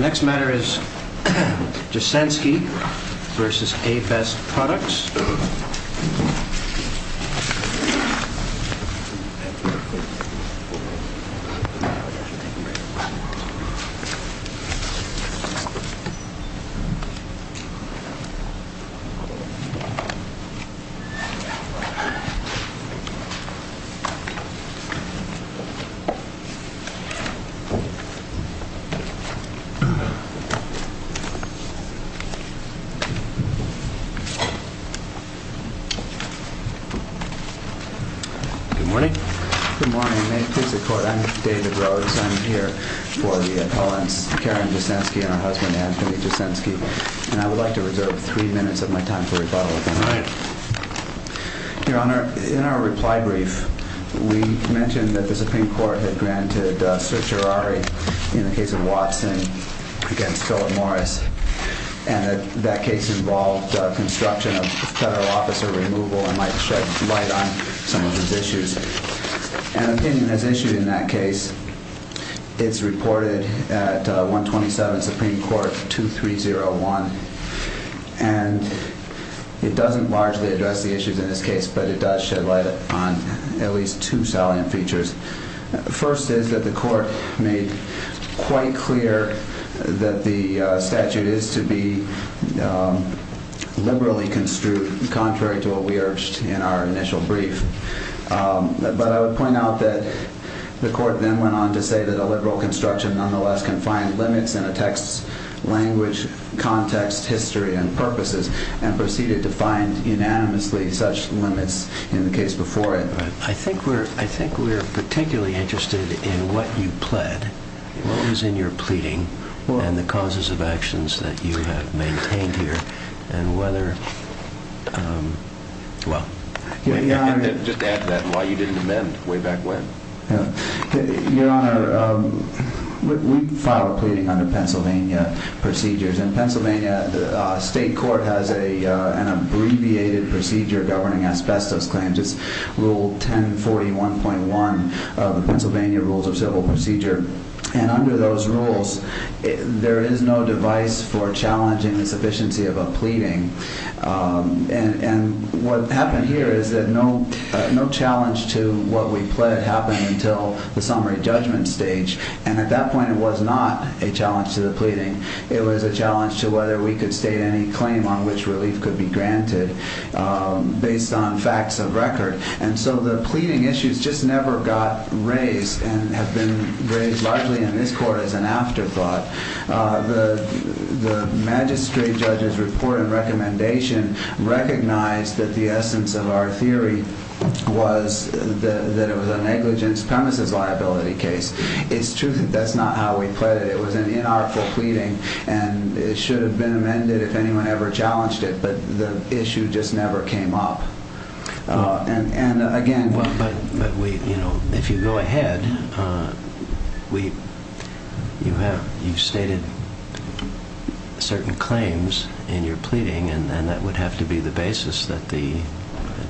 Next matter is Jasensky v. A-Best Products Good morning. Good morning. May it please the court, I'm David Rhodes. I'm here for the appellants Karen Jasensky and her husband Anthony Jasensky. And I would like to reserve three minutes of my time for rebuttal if I may. Your Honor, in our reply brief, we mentioned that the Supreme Court had granted certiorari, in the case of Watson, against Philip Morris. And that case involved construction of federal officer removal and might shed light on some of those issues. An opinion as issued in that case is reported at 127 Supreme Court 2301. And it doesn't largely address the issues in this case, but it does shed light on at First is that the court made quite clear that the statute is to be liberally construed, contrary to what we urged in our initial brief. But I would point out that the court then went on to say that a liberal construction nonetheless can find limits in a text's language, context, history, and purposes, and proceeded to find unanimously such limits in the case before it. I think we're, I think we're particularly interested in what you pled, what was in your pleading and the causes of actions that you have maintained here, and whether, well. Just add to that why you didn't amend way back when. Your Honor, we filed a pleading under Pennsylvania procedures. In Pennsylvania, the state court has an abbreviated procedure governing asbestos claims. It's rule 1041.1 of the Pennsylvania rules of civil procedure. And under those rules, there is no device for challenging the sufficiency of a pleading. And what happened here is that no challenge to what we pled happened until the summary judgment stage. And at that point, it was not a challenge to the pleading. It was a based on facts of record. And so the pleading issues just never got raised and have been raised largely in this court as an afterthought. The magistrate judge's report and recommendation recognized that the essence of our theory was that it was a negligence premises liability case. It's true that that's not how we pled it. It was an inartful pleading, and it should have been amended if anyone ever challenged it. But the issue just never came up. And again... Well, but we, you know, if you go ahead, we, you have, you've stated certain claims in your pleading, and that would have to be the basis that the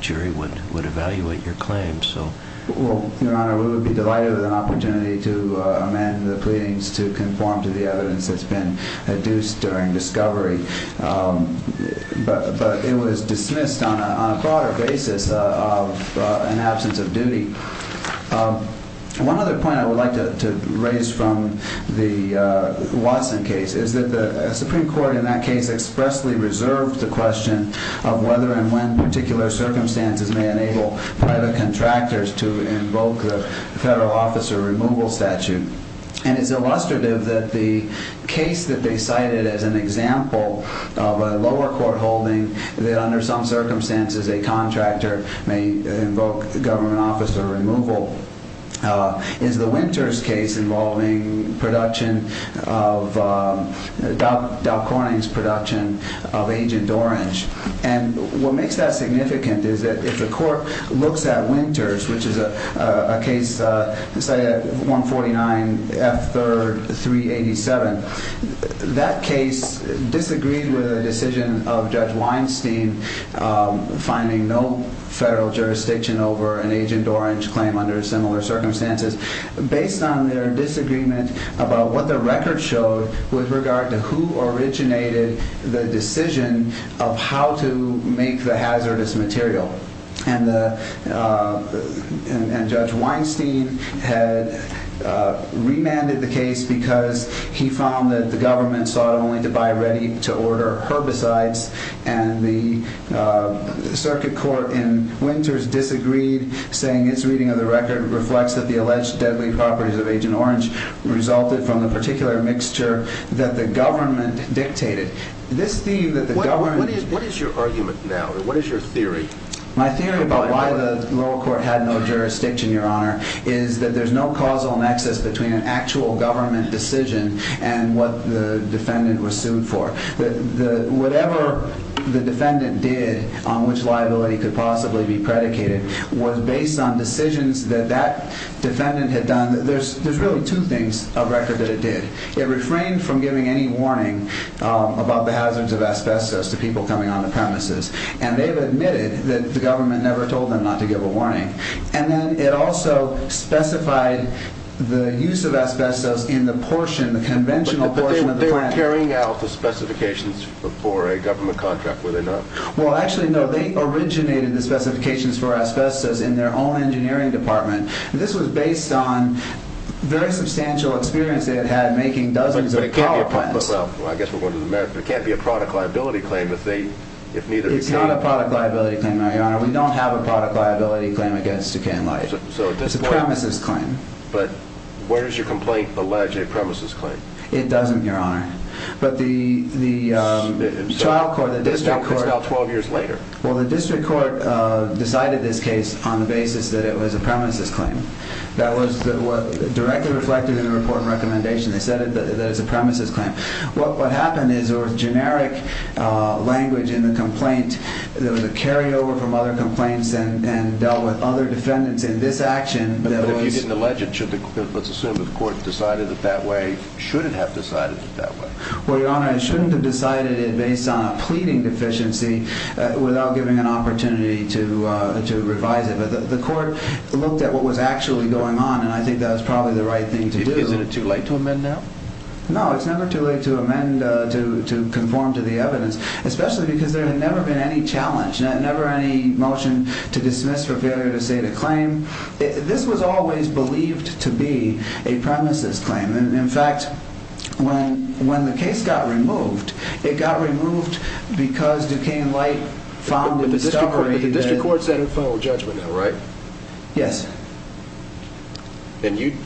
jury would evaluate your claims. So... Well, Your Honor, we would be delighted with an opportunity to amend the pleadings to conform to the evidence that's been adduced during discovery. But it was dismissed on a broader basis of an absence of duty. One other point I would like to raise from the Watson case is that the Supreme Court in that case expressly reserved the question of whether and when particular circumstances may enable private contractors to invoke the federal government officer removal statute. And it's illustrative that the case that they cited as an example of a lower court holding that under some circumstances a contractor may invoke the government officer removal is the Winters case involving production of Dow Corning's production of Agent Orange. And what makes that significant is that if the court looks at Winters, which is a case cited at 149 F. 3rd 387, that case disagreed with a decision of Judge Weinstein finding no federal jurisdiction over an Agent Orange claim under similar circumstances based on their disagreement about what the record showed with regard to who originated the decision of how to make the hazardous material. And Judge Weinstein had remanded the case because he found that the government sought only to buy ready to order herbicides. And the circuit court in Winters disagreed, saying its reading of the record reflects that the alleged deadly properties of Agent Orange resulted from the particular mixture that the government dictated. What is your argument now? What is your theory? My theory about why the lower court had no jurisdiction, Your Honor, is that there's no causal nexus between an actual government decision and what the defendant was sued for. Whatever the defendant did on which liability could possibly be predicated was based on decisions that that defendant had done. There's really two things of record that it did. It refrained from giving any warning about the hazards of asbestos to people coming onto premises. And they've admitted that the government never told them not to give a warning. And then it also specified the use of asbestos in the portion, the conventional portion of the plan. But they were carrying out the specifications for a government contract, were they not? Well, actually, no. They originated the specifications for asbestos in their own engineering department. This was based on very substantial experience they had had making dozens of power plants. Well, I guess we're going to the merits, but it can't be a product liability claim if they... It's not a product liability claim, Your Honor. We don't have a product liability claim against Duquesne Light. It's a premises claim. But where does your complaint allege a premises claim? It doesn't, Your Honor. But the child court, the district court... It's now 12 years later. Well, the district court decided this case on the basis that it was a premises claim. That was directly reflected in the report and recommendation. They said that it's a premises claim. What happened is there was generic language in the complaint. There was a carryover from other complaints and dealt with other defendants in this action that was... Well, Your Honor, it shouldn't have decided it based on a pleading deficiency without giving an opportunity to revise it. But the court looked at what was actually going on, and I think that was probably the right thing to do. Isn't it too late to amend now? No, it's never too late to amend, to conform to the evidence, especially because there had never been any challenge, never any motion to dismiss for failure to state a claim. This was always believed to be a premises claim. In fact, when the case got removed, it got removed because Duquesne Light found a discovery that... But the district court set a final judgment, though, right? Yes. And you...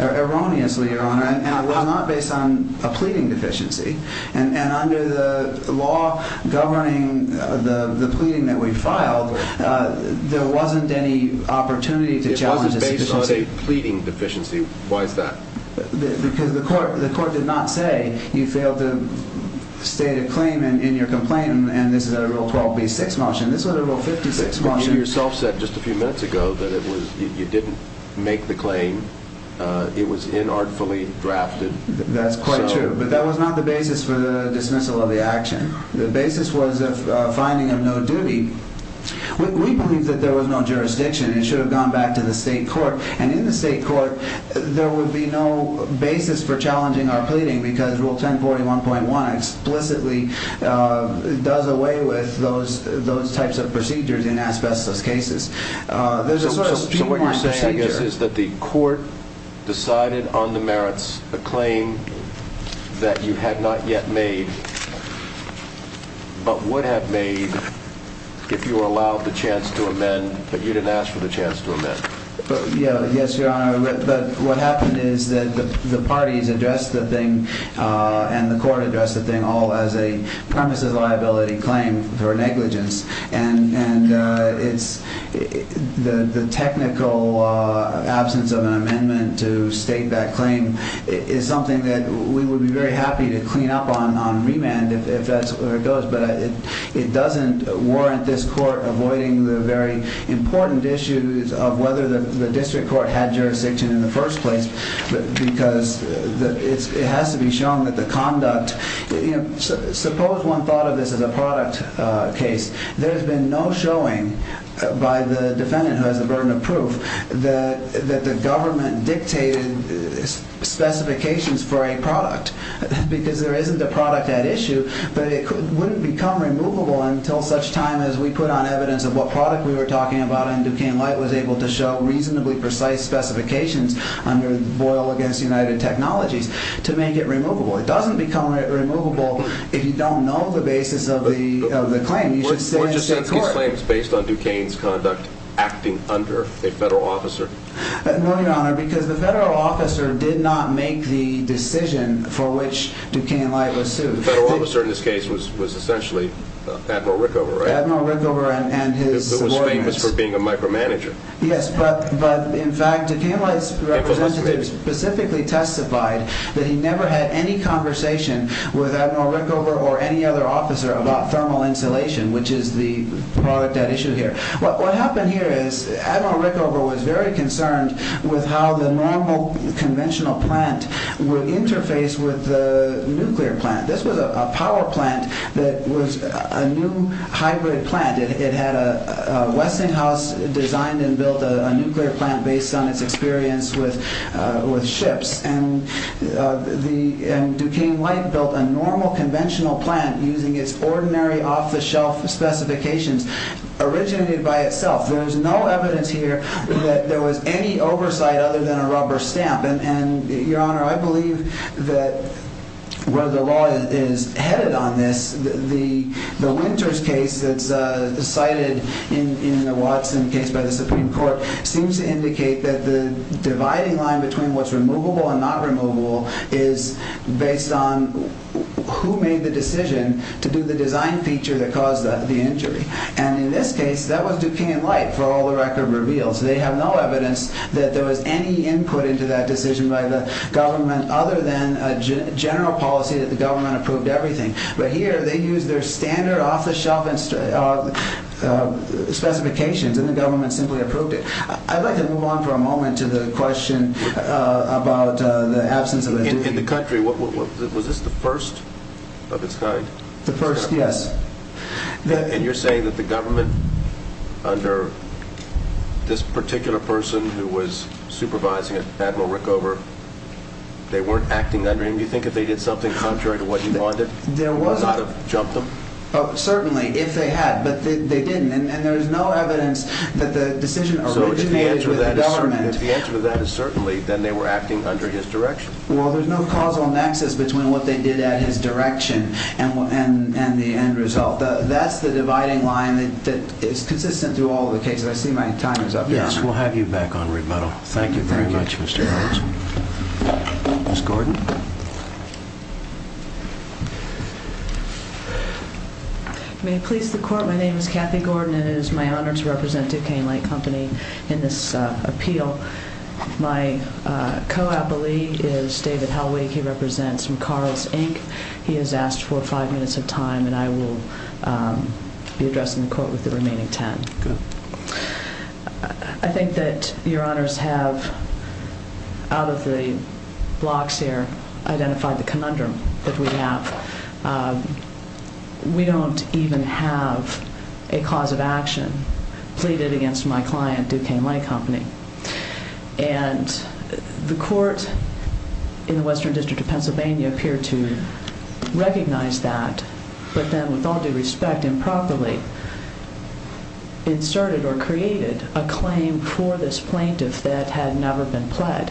Erroneously, Your Honor, and it was not based on a pleading deficiency. And under the law governing the pleading that we filed, there wasn't any opportunity to challenge this deficiency. You say pleading deficiency. Why is that? Because the court did not say you failed to state a claim in your complaint, and this is a Rule 12b-6 motion. This was a Rule 56 motion. But you yourself said just a few minutes ago that you didn't make the claim. It was inartfully drafted. That's quite true, but that was not the basis for the dismissal of the action. The basis was a finding of no duty. We believe that there was no jurisdiction. It should have gone back to the state court, and in the state court, there would be no basis for challenging our pleading because Rule 1041.1 explicitly does away with those types of procedures in asbestos cases. There's a sort of streamlined procedure. The basis is that the court decided on the merits a claim that you had not yet made, but would have made if you were allowed the chance to amend, but you didn't ask for the chance to amend. Yes, Your Honor. But what happened is that the parties addressed the thing, and the court addressed the thing, all as a premises liability claim for negligence. And the technical absence of an amendment to state that claim is something that we would be very happy to clean up on remand if that's where it goes, but it doesn't warrant this court avoiding the very important issues of whether the district court had jurisdiction in the first place because it has to be shown that the conduct. Suppose one thought of this as a product case. There's been no showing by the defendant who has the burden of proof that the government dictated specifications for a product because there isn't a product at issue, but it wouldn't become removable until such time as we put on evidence of what product we were talking about and Duquesne Light was able to show reasonably precise specifications under Boyle against United Technologies to make it removable. It doesn't become removable if you don't know the basis of the claim. You should stay in the district court. Were Jasinski's claims based on Duquesne's conduct acting under a federal officer? No, Your Honor, because the federal officer did not make the decision for which Duquesne Light was sued. The federal officer in this case was essentially Admiral Rickover, right? Admiral Rickover and his subordinates. Who was famous for being a micromanager. Yes, but in fact Duquesne Light's representative specifically testified that he never had any conversation with Admiral Rickover or any other officer about thermal insulation, which is the product at issue here. What happened here is Admiral Rickover was very concerned with how the normal conventional plant would interface with the nuclear plant. This was a power plant that was a new hybrid plant. It had a Westinghouse designed and built a nuclear plant based on its experience with ships. Duquesne Light built a normal conventional plant using its ordinary off-the-shelf specifications, originated by itself. There's no evidence here that there was any oversight other than a rubber stamp. Your Honor, I believe that where the law is headed on this, the Winters case that's cited in the Watson case by the Supreme Court seems to indicate that the dividing line between what's removable and not removable is based on who made the decision to do the design feature that caused the injury. In this case, that was Duquesne Light for all the record reveals. They have no evidence that there was any input into that decision by the government other than a general policy that the government approved everything. Here, they used their standard off-the-shelf specifications and the government simply approved it. I'd like to move on for a moment to the question about the absence of a deputy. In the country, was this the first of its kind? The first, yes. You're saying that the government, under this particular person who was supervising it, Admiral Rickover, they weren't acting under him? Do you think if they did something contrary to what he wanted, it would not have jumped them? Certainly, if they had, but they didn't. There's no evidence that the decision originally was with the government. If the answer to that is certainly, then they were acting under his direction. Well, there's no causal nexus between what they did at his direction and the end result. That's the dividing line that is consistent through all the cases. I see my time is up here. Yes, we'll have you back on rebuttal. Thank you very much, Mr. Holmes. Ms. Gordon. May it please the Court, my name is Kathy Gordon, and it is my honor to represent Duquesne Light Company in this appeal. My co-appellee is David Helwig. He represents McCarles, Inc. He has asked for five minutes of time, and I will be addressing the Court with the remaining ten. Good. I think that your honors have, out of the blocks here, identified the conundrum that we have. We don't even have a cause of action pleaded against my client, Duquesne Light Company. And the Court in the Western District of Pennsylvania appeared to recognize that, but then, with all due respect, improperly inserted or created a claim for this plaintiff that had never been pled.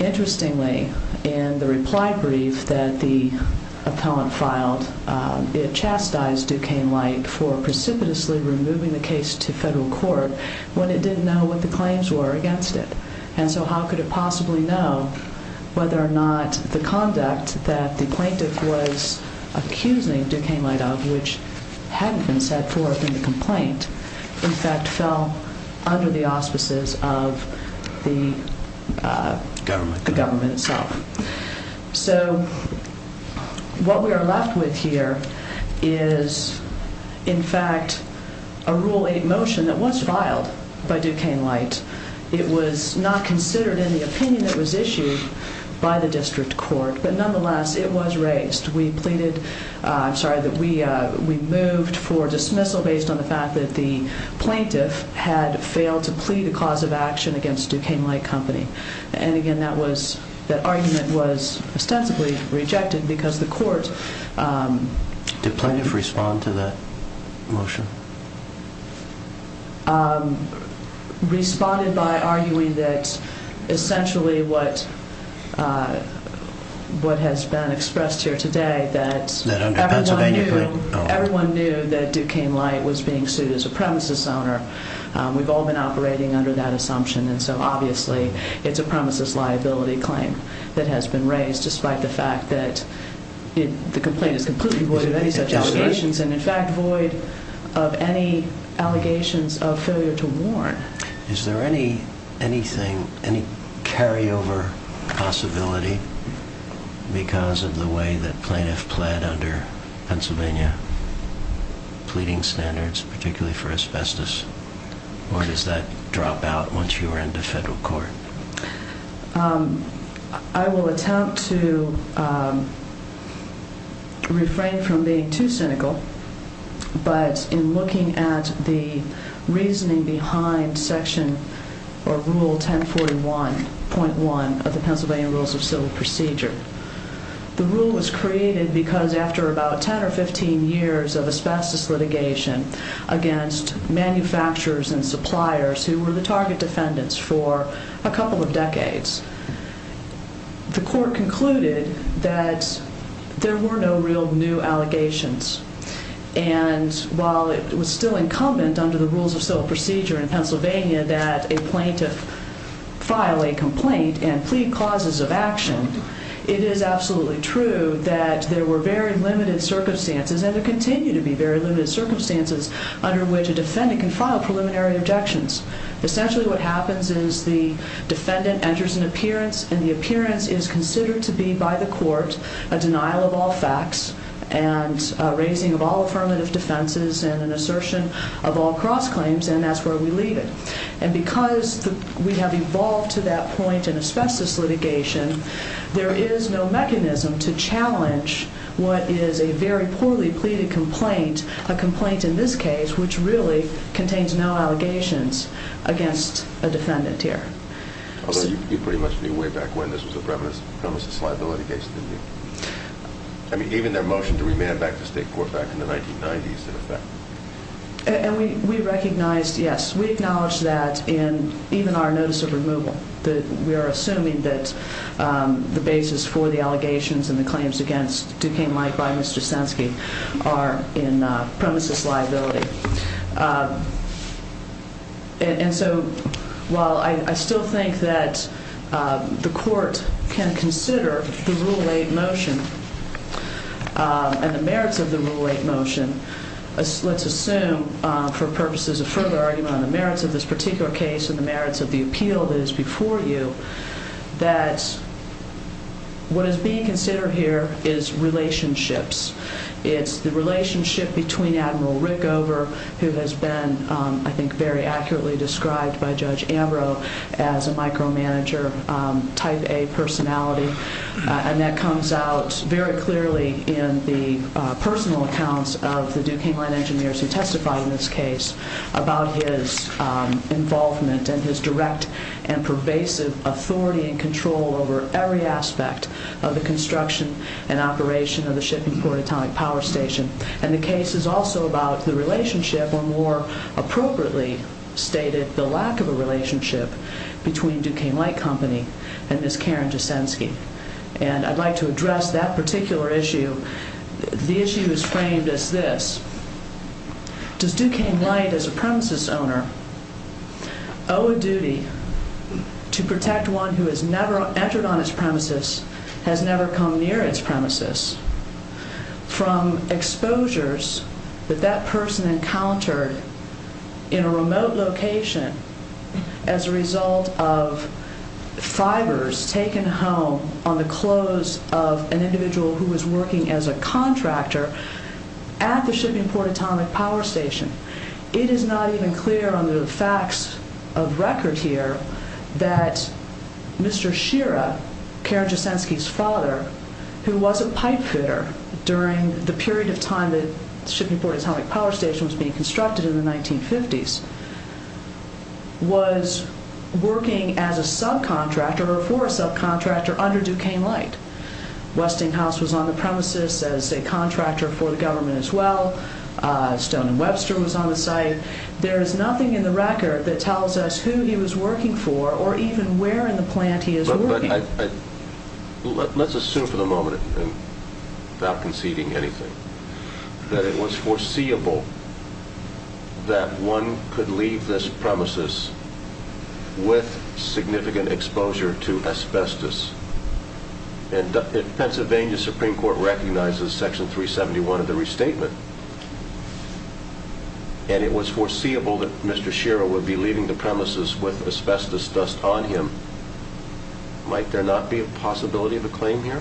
Interestingly, in the reply brief that the appellant filed, it chastised Duquesne Light for precipitously removing the case to federal court when it didn't know what the claims were against it. And so how could it possibly know whether or not the conduct that the plaintiff was accusing Duquesne Light of, which hadn't been set forth in the complaint, in fact fell under the auspices of the government itself. So, what we are left with here is, in fact, a Rule 8 motion that was filed by Duquesne Light. It was not considered in the opinion that was issued by the District Court, but nonetheless, it was raised. We pleaded, I'm sorry, we moved for dismissal based on the fact that the plaintiff had failed to plead a cause of action against Duquesne Light Company. And, again, that argument was ostensibly rejected because the court... Did plaintiff respond to that motion? Responded by arguing that, essentially, what has been expressed here today, that everyone knew that Duquesne Light was being sued as a premises owner. We've all been operating under that assumption. And so, obviously, it's a premises liability claim that has been raised, despite the fact that the complaint is completely void of any such allegations, and, in fact, void of any allegations of failure to warn. Is there any carryover possibility because of the way that plaintiff pled under Pennsylvania pleading standards, particularly for asbestos, or does that drop out once you are in the federal court? I will attempt to refrain from being too cynical, but in looking at the reasoning behind Section or Rule 1041.1 of the Pennsylvania Rules of Civil Procedure, the rule was created because after about 10 or 15 years of asbestos litigation against manufacturers and suppliers who were the target defendants for a couple of decades, the court concluded that there were no real new allegations. And while it was still incumbent under the Rules of Civil Procedure in Pennsylvania that a plaintiff file a complaint and plead causes of action, it is absolutely true that there were very limited circumstances, and there continue to be very limited circumstances, under which a defendant can file preliminary objections. Essentially, what happens is the defendant enters an appearance, and the appearance is considered to be, by the court, a denial of all facts and raising of all affirmative defenses and an assertion of all cross-claims, and that's where we leave it. And because we have evolved to that point in asbestos litigation, there is no mechanism to challenge what is a very poorly pleaded complaint, a complaint in this case which really contains no allegations against a defendant here. Although you pretty much knew way back when this was a preeminence of premises liability case, didn't you? I mean, even their motion to remand back to state court back in the 1990s, in effect. And we recognized, yes, we acknowledged that in even our notice of removal. We are assuming that the basis for the allegations and the claims against Duquesne Light by Mr. Senske are in premises liability. And so while I still think that the court can consider the Rule 8 motion and the merits of the Rule 8 motion, let's assume for purposes of further argument on the merits of this particular case and the merits of the appeal that is before you, that what is being considered here is relationships. It's the relationship between Admiral Rickover, who has been, I think, very accurately described by Judge Ambrose as a micromanager, type A personality, and that comes out very clearly in the personal accounts of the Duquesne Light engineers who testified in this case about his involvement and his direct and pervasive authority and control over every aspect of the construction and operation of the Shipping Port Atomic Power Station. And the case is also about the relationship, or more appropriately stated, the lack of a relationship between Duquesne Light Company and Ms. Karen Desenske. And I'd like to address that particular issue. The issue is framed as this. Does Duquesne Light, as a premises owner, owe a duty to protect one who has never entered on its premises, has never come near its premises, from exposures that that person encountered in a remote location as a result of fibers taken home on the clothes of an individual who was working as a contractor at the Shipping Port Atomic Power Station? It is not even clear under the facts of record here that Mr. Shearer, Karen Desenske's father, who was a pipe fitter during the period of time that the Shipping Port Atomic Power Station was being constructed in the 1950s, was working as a subcontractor or for a subcontractor under Duquesne Light. Westinghouse was on the premises as a contractor for the government as well. Stone and Webster was on the site. There is nothing in the record that tells us who he was working for or even where in the plant he was working. Let's assume for the moment, without conceding anything, that it was foreseeable that one could leave this premises with significant exposure to asbestos. Pennsylvania Supreme Court recognizes Section 371 of the restatement, and it was foreseeable that Mr. Shearer would be leaving the premises with asbestos dust on him. Might there not be a possibility of a claim here?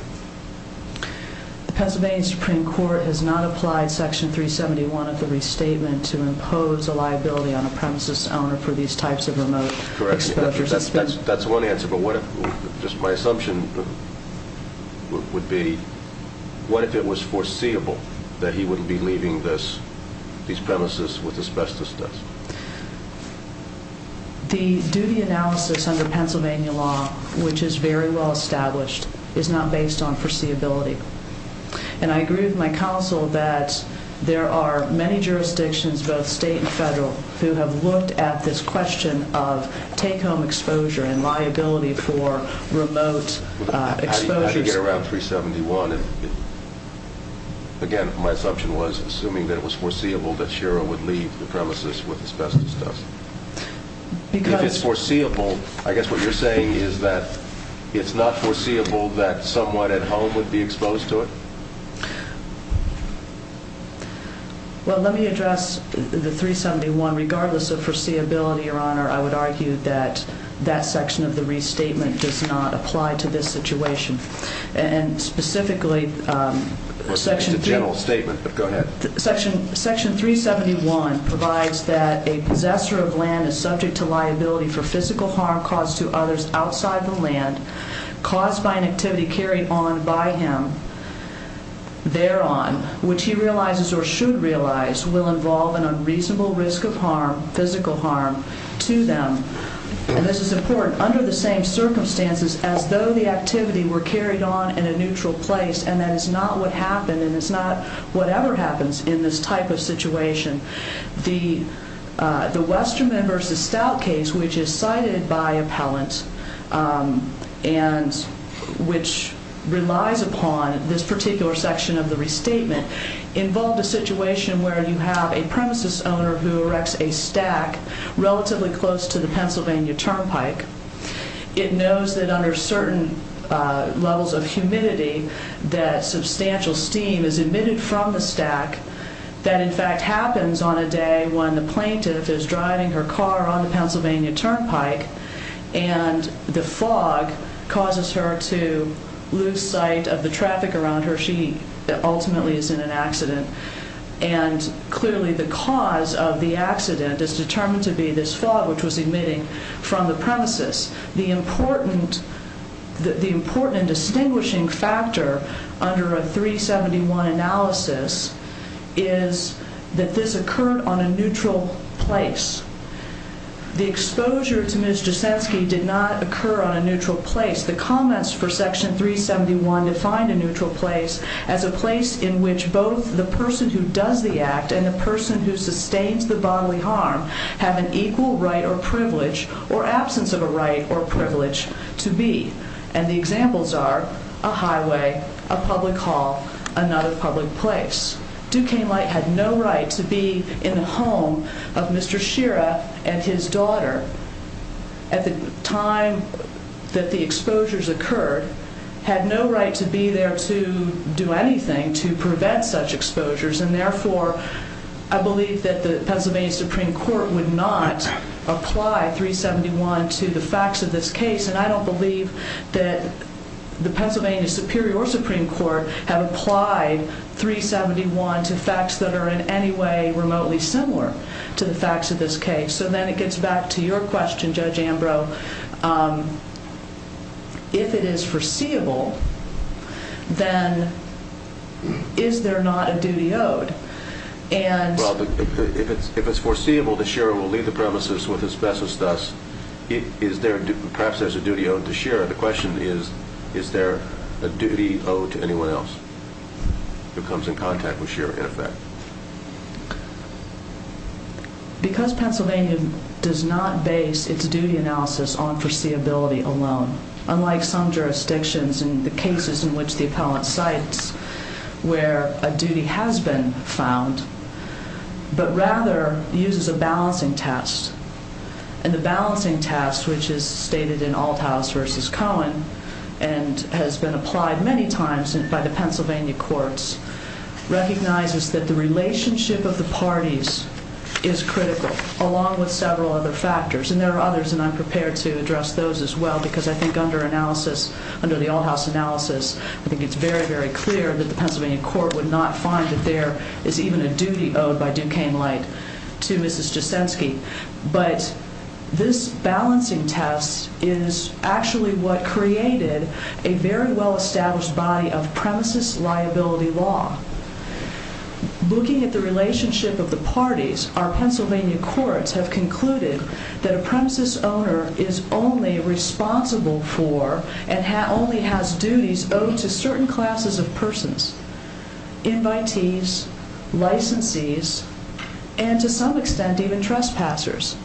The Pennsylvania Supreme Court has not applied Section 371 of the restatement to impose a liability on a premises owner for these types of remote exposures. That's one answer, but what if, just my assumption would be, what if it was foreseeable that he would be leaving these premises with asbestos dust? The duty analysis under Pennsylvania law, which is very well established, is not based on foreseeability. And I agree with my counsel that there are many jurisdictions, both state and federal, who have looked at this question of take-home exposure and liability for remote exposures. How do you get around 371? Again, my assumption was, assuming that it was foreseeable, that Shearer would leave the premises with asbestos dust. If it's foreseeable, I guess what you're saying is that it's not foreseeable that someone at home would be exposed to it? Well, let me address the 371. Regardless of foreseeability, Your Honor, I would argue that that section of the restatement does not apply to this situation. Specifically, Section 371 provides that a possessor of land is subject to liability for physical harm caused to others outside the land caused by an activity carried on by him thereon, which he realizes or should realize will involve an unreasonable risk of harm, physical harm, to them. And this is important. Under the same circumstances, as though the activity were carried on in a neutral place and that is not what happened and it's not whatever happens in this type of situation, the Westerman v. Stout case, which is cited by appellant and which relies upon this particular section of the restatement, involved a situation where you have a premises owner who erects a stack relatively close to the Pennsylvania Turnpike. It knows that under certain levels of humidity that substantial steam is emitted from the stack. That, in fact, happens on a day when the plaintiff is driving her car on the Pennsylvania Turnpike and the fog causes her to lose sight of the traffic around her. She ultimately is in an accident. And clearly the cause of the accident is determined to be this fog, which was emitting from the premises. The important and distinguishing factor under a 371 analysis is that this occurred on a neutral place. The exposure to Ms. Jasensky did not occur on a neutral place. The comments for Section 371 define a neutral place as a place in which both the person who does the act and the person who sustains the bodily harm have an equal right or privilege or absence of a right or privilege to be. And the examples are a highway, a public hall, another public place. Duquesne Light had no right to be in the home of Mr. Shira and his daughter at the time that the exposures occurred, had no right to be there to do anything to prevent such exposures, and therefore I believe that the Pennsylvania Supreme Court would not apply 371 to the facts of this case. And I don't believe that the Pennsylvania Superior or Supreme Court have applied 371 to facts that are in any way remotely similar to the facts of this case. So then it gets back to your question, Judge Ambrose. If it is foreseeable, then is there not a duty owed? Well, if it's foreseeable that Shira will leave the premises with asbestos dust, perhaps there's a duty owed to Shira. The question is, is there a duty owed to anyone else who comes in contact with Shira in effect? Because Pennsylvania does not base its duty analysis on foreseeability alone, unlike some jurisdictions in the cases in which the appellant cites where a duty has been found, but rather uses a balancing test. And the balancing test, which is stated in Althaus v. Cohen and has been applied many times by the Pennsylvania courts, recognizes that the relationship of the parties is critical, along with several other factors. And there are others, and I'm prepared to address those as well, because I think under analysis, under the Althaus analysis, I think it's very, very clear that the Pennsylvania court would not find that there is even a duty owed by Duquesne Light to Mrs. Jasensky. But this balancing test is actually what created a very well-established body of premises liability law. Looking at the relationship of the parties, our Pennsylvania courts have concluded that a premises owner is only responsible for and only has duties owed to certain classes of persons, invitees, licensees, and to some extent even trespassers.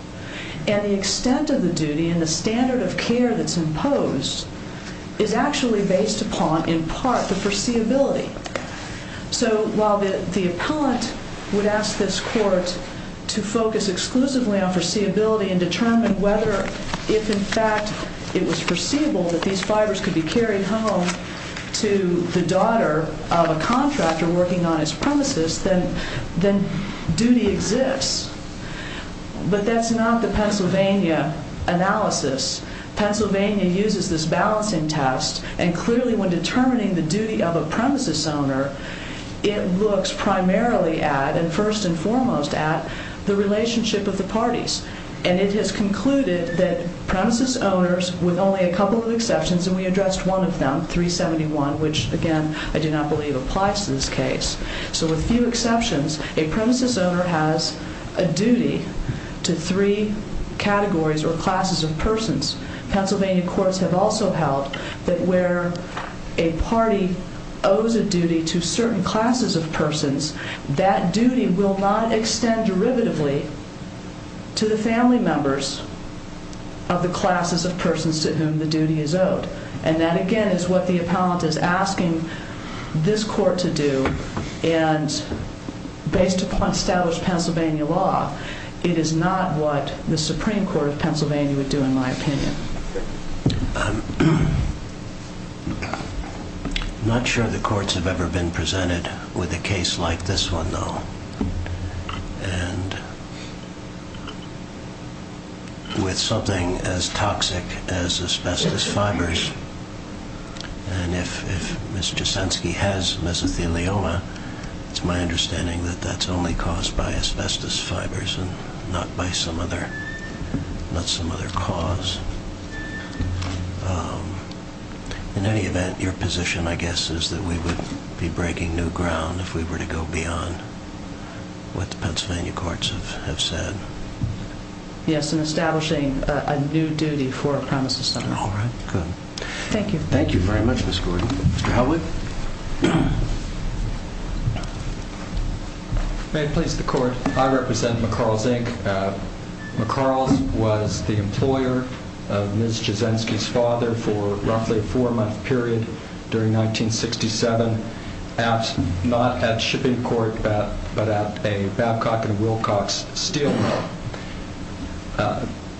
And the extent of the duty and the standard of care that's imposed is actually based upon, in part, the foreseeability. So while the appellant would ask this court to focus exclusively on foreseeability and determine whether, if in fact, it was foreseeable that these fibers could be carried home to the daughter of a contractor working on his premises, then duty exists. But that's not the Pennsylvania analysis. Pennsylvania uses this balancing test, and clearly when determining the duty of a premises owner, it looks primarily at, and first and foremost at, the relationship of the parties. And it has concluded that premises owners, with only a couple of exceptions, and we addressed one of them, 371, which, again, I do not believe applies to this case. So with few exceptions, a premises owner has a duty to three categories or classes of persons. Pennsylvania courts have also held that where a party owes a duty to certain classes of persons, that duty will not extend derivatively to the family members of the classes of persons to whom the duty is owed. And that, again, is what the appellant is asking this court to do. And based upon established Pennsylvania law, it is not what the Supreme Court of Pennsylvania would do, in my opinion. I'm not sure the courts have ever been presented with a case like this one, though. And with something as toxic as asbestos fibers, and if Ms. Jasensky has mesothelioma, it's my understanding that that's only caused by asbestos fibers and not some other cause. In any event, your position, I guess, is that we would be breaking new ground if we were to go beyond what the Pennsylvania courts have said. Yes, in establishing a new duty for a premises owner. All right, good. Thank you. Thank you very much, Ms. Gordon. Mr. Helwig? May it please the court? I represent McCarles, Inc. McCarles was the employer of Ms. Jasensky's father for roughly a four-month period during 1967. Not at shipping port, but at a Babcock & Wilcox steel mill.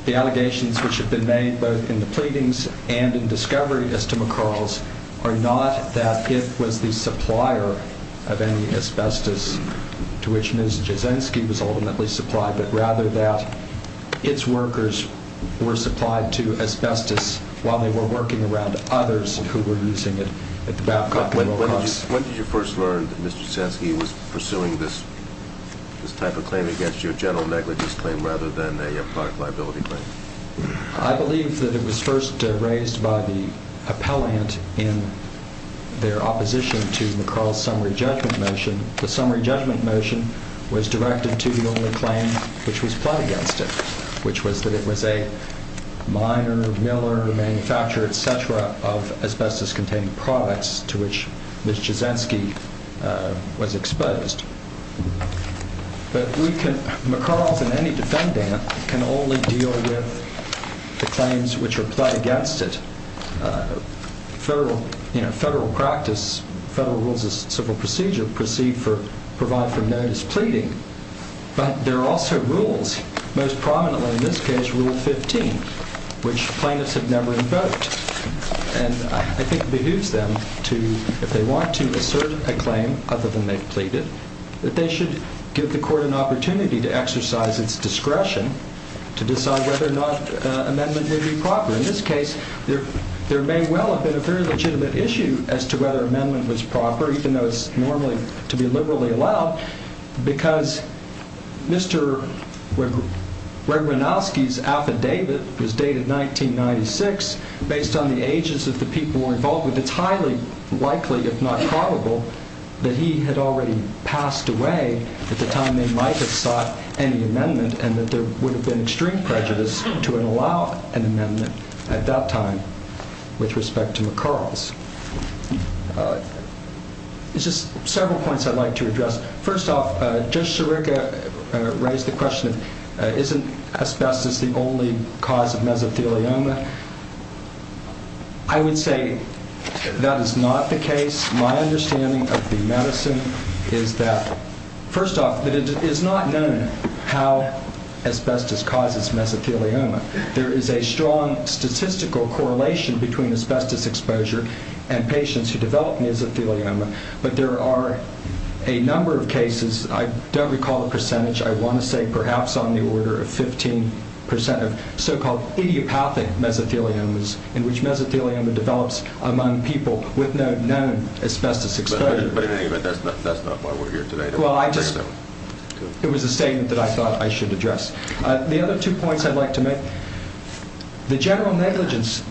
The allegations which have been made both in the pleadings and in discovery as to McCarles are not that it was the supplier of any asbestos to which Ms. Jasensky was ultimately supplied, but rather that its workers were supplied to asbestos while they were working around others who were using it at the Babcock & Wilcox. When did you first learn that Mr. Jasensky was pursuing this type of claim against you, a general negligence claim, rather than a product liability claim? I believe that it was first raised by the appellant in their opposition to McCarles' summary judgment motion. The summary judgment motion was directed to the only claim which was fled against it, which was that it was a miner, miller, manufacturer, etc., of asbestos-containing products to which Ms. Jasensky was exposed. But McCarles and any defendant can only deal with the claims which are pled against it. Federal rules of civil procedure provide for no displeading, but there are also rules, most prominently in this case Rule 15, which plaintiffs have never invoked. And I think it behooves them to, if they want to assert a claim other than they've pleaded, that they should give the Court an opportunity to exercise its discretion to decide whether or not an amendment would be proper. In this case, there may well have been a very legitimate issue as to whether an amendment was proper, even though it's normally to be liberally allowed, because Mr. Regwanowski's affidavit was dated 1996. Based on the ages that the people were involved with, it's highly likely, if not probable, that he had already passed away at the time they might have sought any amendment and that there would have been extreme prejudice to allow an amendment at that time with respect to McCarles. Just several points I'd like to address. First off, Judge Sirica raised the question, isn't asbestos the only cause of mesothelioma? I would say that is not the case. My understanding of the medicine is that, first off, that it is not known how asbestos causes mesothelioma. There is a strong statistical correlation between asbestos exposure and patients who develop mesothelioma, but there are a number of cases, I don't recall the percentage, I want to say perhaps on the order of 15% of so-called idiopathic mesotheliomas, in which mesothelioma develops among people with no known asbestos exposure. But that's not why we're here today. It was a statement that I thought I should address. The other two points I'd like to make. The general negligence,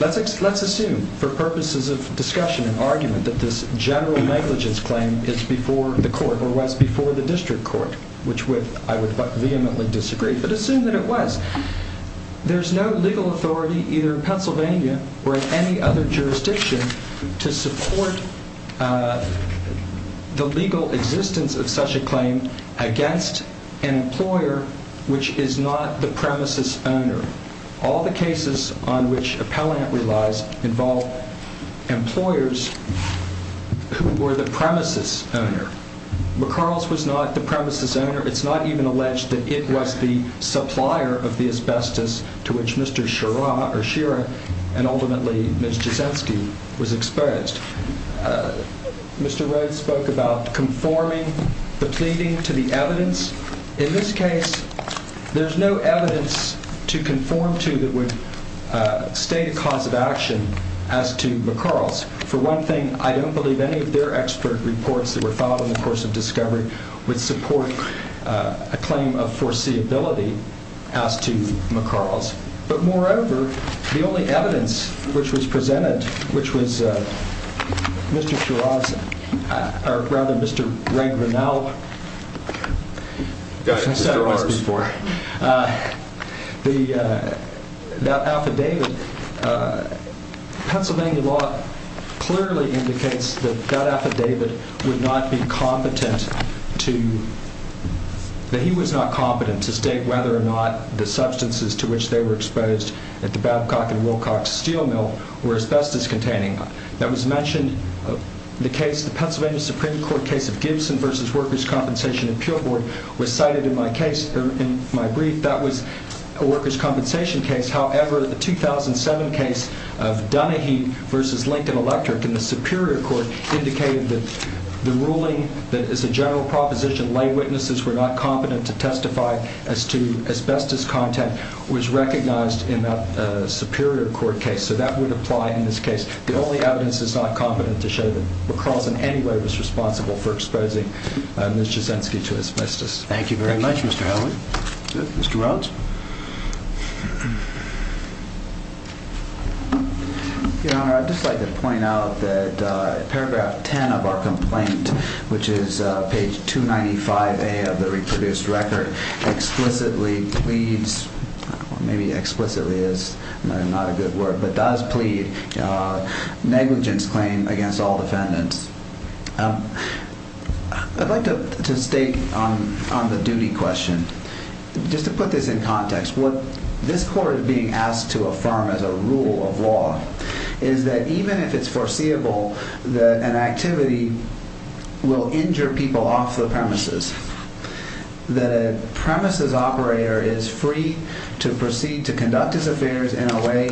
let's assume for purposes of discussion and argument that this general negligence claim is before the court or was before the district court, which I would vehemently disagree, but assume that it was. There's no legal authority either in Pennsylvania or in any other jurisdiction to support the legal existence of such a claim against an employer which is not the premises owner. All the cases on which appellant relies involve employers who were the premises owner. McCarles was not the premises owner. It's not even alleged that it was the supplier of the asbestos to which Mr. Shira and ultimately Ms. Jasinski was exposed. Mr. Rhodes spoke about conforming the pleading to the evidence. In this case, there's no evidence to conform to that would state a cause of action as to McCarles. For one thing, I don't believe any of their expert reports that were filed in the course of discovery would support a claim of foreseeability as to McCarles. But moreover, the only evidence which was presented, which was Mr. Shira's, or rather Mr. Ray Grinnell. That affidavit, Pennsylvania law clearly indicates that that affidavit would not be competent to, that he was not competent to state whether or not the substances to which they were exposed at the Babcock and Wilcox steel mill were asbestos containing. That was mentioned, the case, the Pennsylvania Supreme Court case of Gibson versus Workers' Compensation Appeal Board was cited in my case, in my brief. That was a workers' compensation case. However, the 2007 case of Dunahee versus Lincoln Electric in the Superior Court indicated that the ruling that is a general proposition, lay witnesses were not competent to testify as to asbestos content, was recognized in that Superior Court case. So that would apply in this case. The only evidence is not competent to show that McCarles in any way was responsible for exposing Ms. Jasinski to asbestos. Thank you very much, Mr. Howell. Mr. Rhodes. Your Honor, I'd just like to point out that paragraph 10 of our complaint, which is page 295A of the reproduced record, explicitly pleads, maybe explicitly is not a good word, but does plead negligence claim against all defendants. I'd like to state on the duty question, just to put this in context, what this court is being asked to affirm as a rule of law is that even if it's foreseeable that an activity will injure people off the premises, that a premises operator is free to proceed to conduct his affairs in a way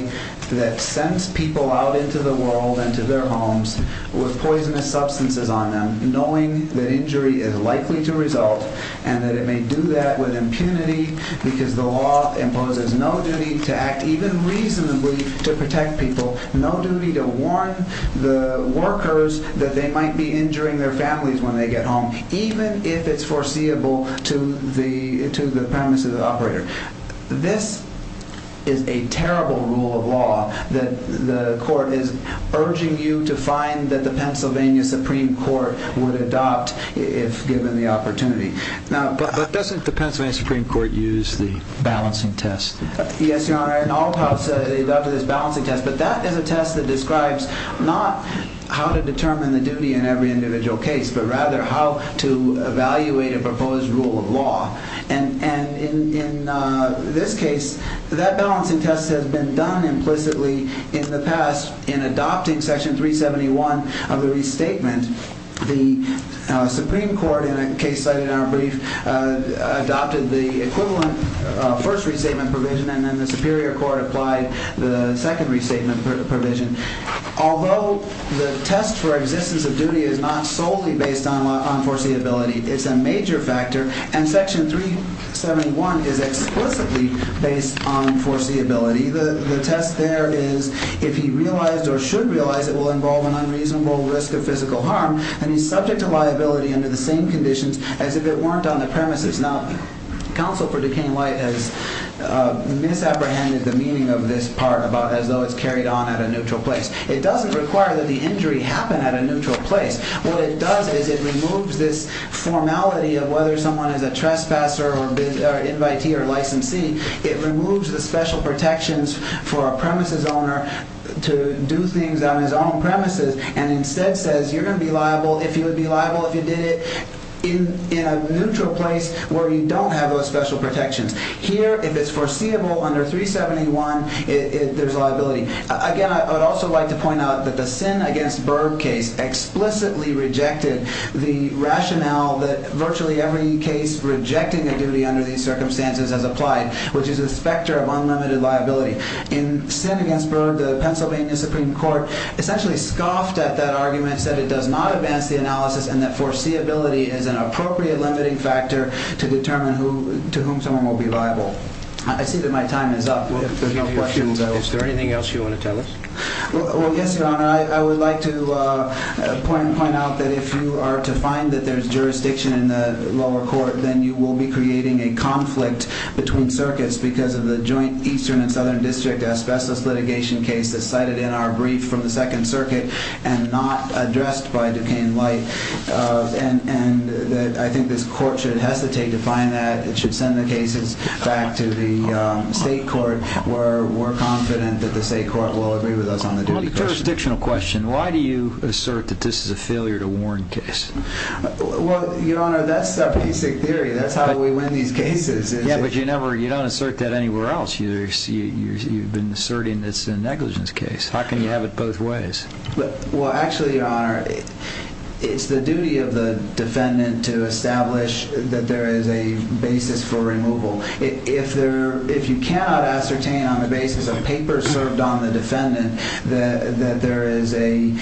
that sends people out into the world, into their homes, with poisonous substances on them, knowing that injury is likely to result and that it may do that with impunity because the law imposes no duty to act even reasonably to protect people, no duty to warn the workers that they might be injuring their families when they get home, even if it's foreseeable to the premises operator. This is a terrible rule of law that the court is urging you to find that the Pennsylvania Supreme Court would adopt if given the opportunity. But doesn't the Pennsylvania Supreme Court use the balancing test? Yes, Your Honor. In all counts, they've adopted this balancing test, but that is a test that describes not how to determine the duty in every individual case, but rather how to evaluate a proposed rule of law. And in this case, that balancing test has been done implicitly in the past in adopting section 371 of the restatement. The Supreme Court, in a case cited in our brief, adopted the equivalent first restatement provision and then the Superior Court applied the second restatement provision. Although the test for existence of duty is not solely based on foreseeability, it's a major factor, and section 371 is explicitly based on foreseeability. The test there is if he realized or should realize it will involve an unreasonable risk of physical harm, and he's subject to liability under the same conditions as if it weren't on the premises. Now, counsel for Duquesne Light has misapprehended the meaning of this part as though it's carried on at a neutral place. It doesn't require that the injury happen at a neutral place. What it does is it removes this formality of whether someone is a trespasser or invitee or licensee. It removes the special protections for a premises owner to do things on his own premises and instead says you're going to be liable if you would be liable if you did it in a neutral place where you don't have those special protections. Here, if it's foreseeable under 371, there's liability. Again, I would also like to point out that the Sinn against Berg case explicitly rejected the rationale that virtually every case rejecting a duty under these circumstances has applied, which is a specter of unlimited liability. In Sinn against Berg, the Pennsylvania Supreme Court essentially scoffed at that argument, said it does not advance the analysis and that foreseeability is an appropriate limiting factor to determine to whom someone will be liable. I see that my time is up. If there's anything else you want to tell us? Well, yes, Your Honor. I would like to point out that if you are to find that there's jurisdiction in the lower court, then you will be creating a conflict between circuits because of the joint Eastern and Southern District asbestos litigation case that's cited in our brief from the Second Circuit and not addressed by Duquesne Light. I think this court should hesitate to find that. It should send the cases back to the state court. We're confident that the state court will agree with us on the duty question. On the jurisdictional question, why do you assert that this is a failure to warn case? Well, Your Honor, that's our basic theory. That's how we win these cases. Yeah, but you don't assert that anywhere else. You've been asserting it's a negligence case. How can you have it both ways? Well, actually, Your Honor, it's the duty of the defendant to establish that there is a basis for removal. If you cannot ascertain on the basis of papers served on the defendant that there is a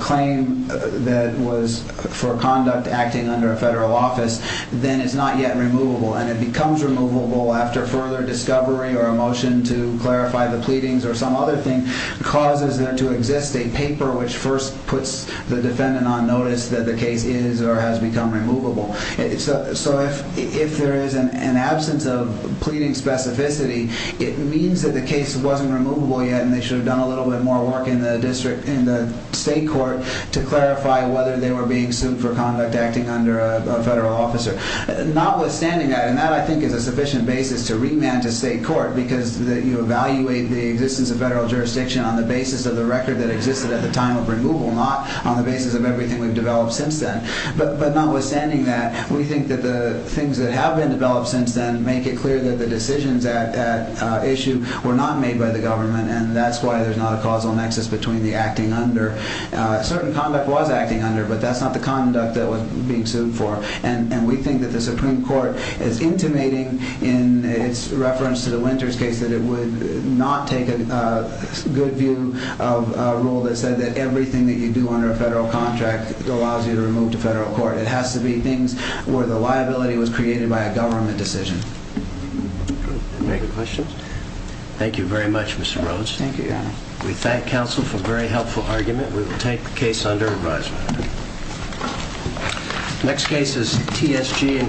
claim that was for conduct acting under a federal office, then it's not yet removable. And it becomes removable after further discovery or a motion to clarify the pleadings or some other thing causes there to exist a paper which first puts the defendant on notice that the case is or has become removable. So if there is an absence of pleading specificity, it means that the case wasn't removable yet and they should have done a little bit more work in the state court to clarify whether they were being sued for conduct acting under a federal officer. Notwithstanding that, and that I think is a sufficient basis to remand to state court because you evaluate the existence of federal jurisdiction on the basis of the record that existed at the time of removal, not on the basis of everything we've developed since then. But notwithstanding that, we think that the things that have been developed since then make it clear that the decisions at issue were not made by the government, and that's why there's not a causal nexus between the acting under. Certain conduct was acting under, but that's not the conduct that was being sued for. And we think that the Supreme Court is intimating in its reference to the Winters case that it would not take a good view of a rule that said that everything that you do under a federal contract allows you to remove to federal court. It has to be things where the liability was created by a government decision. Any other questions? Thank you very much, Mr. Rhodes. Thank you, Your Honor. We thank counsel for a very helpful argument. We will take the case under advisement. The next case is T.S.G. and Craig.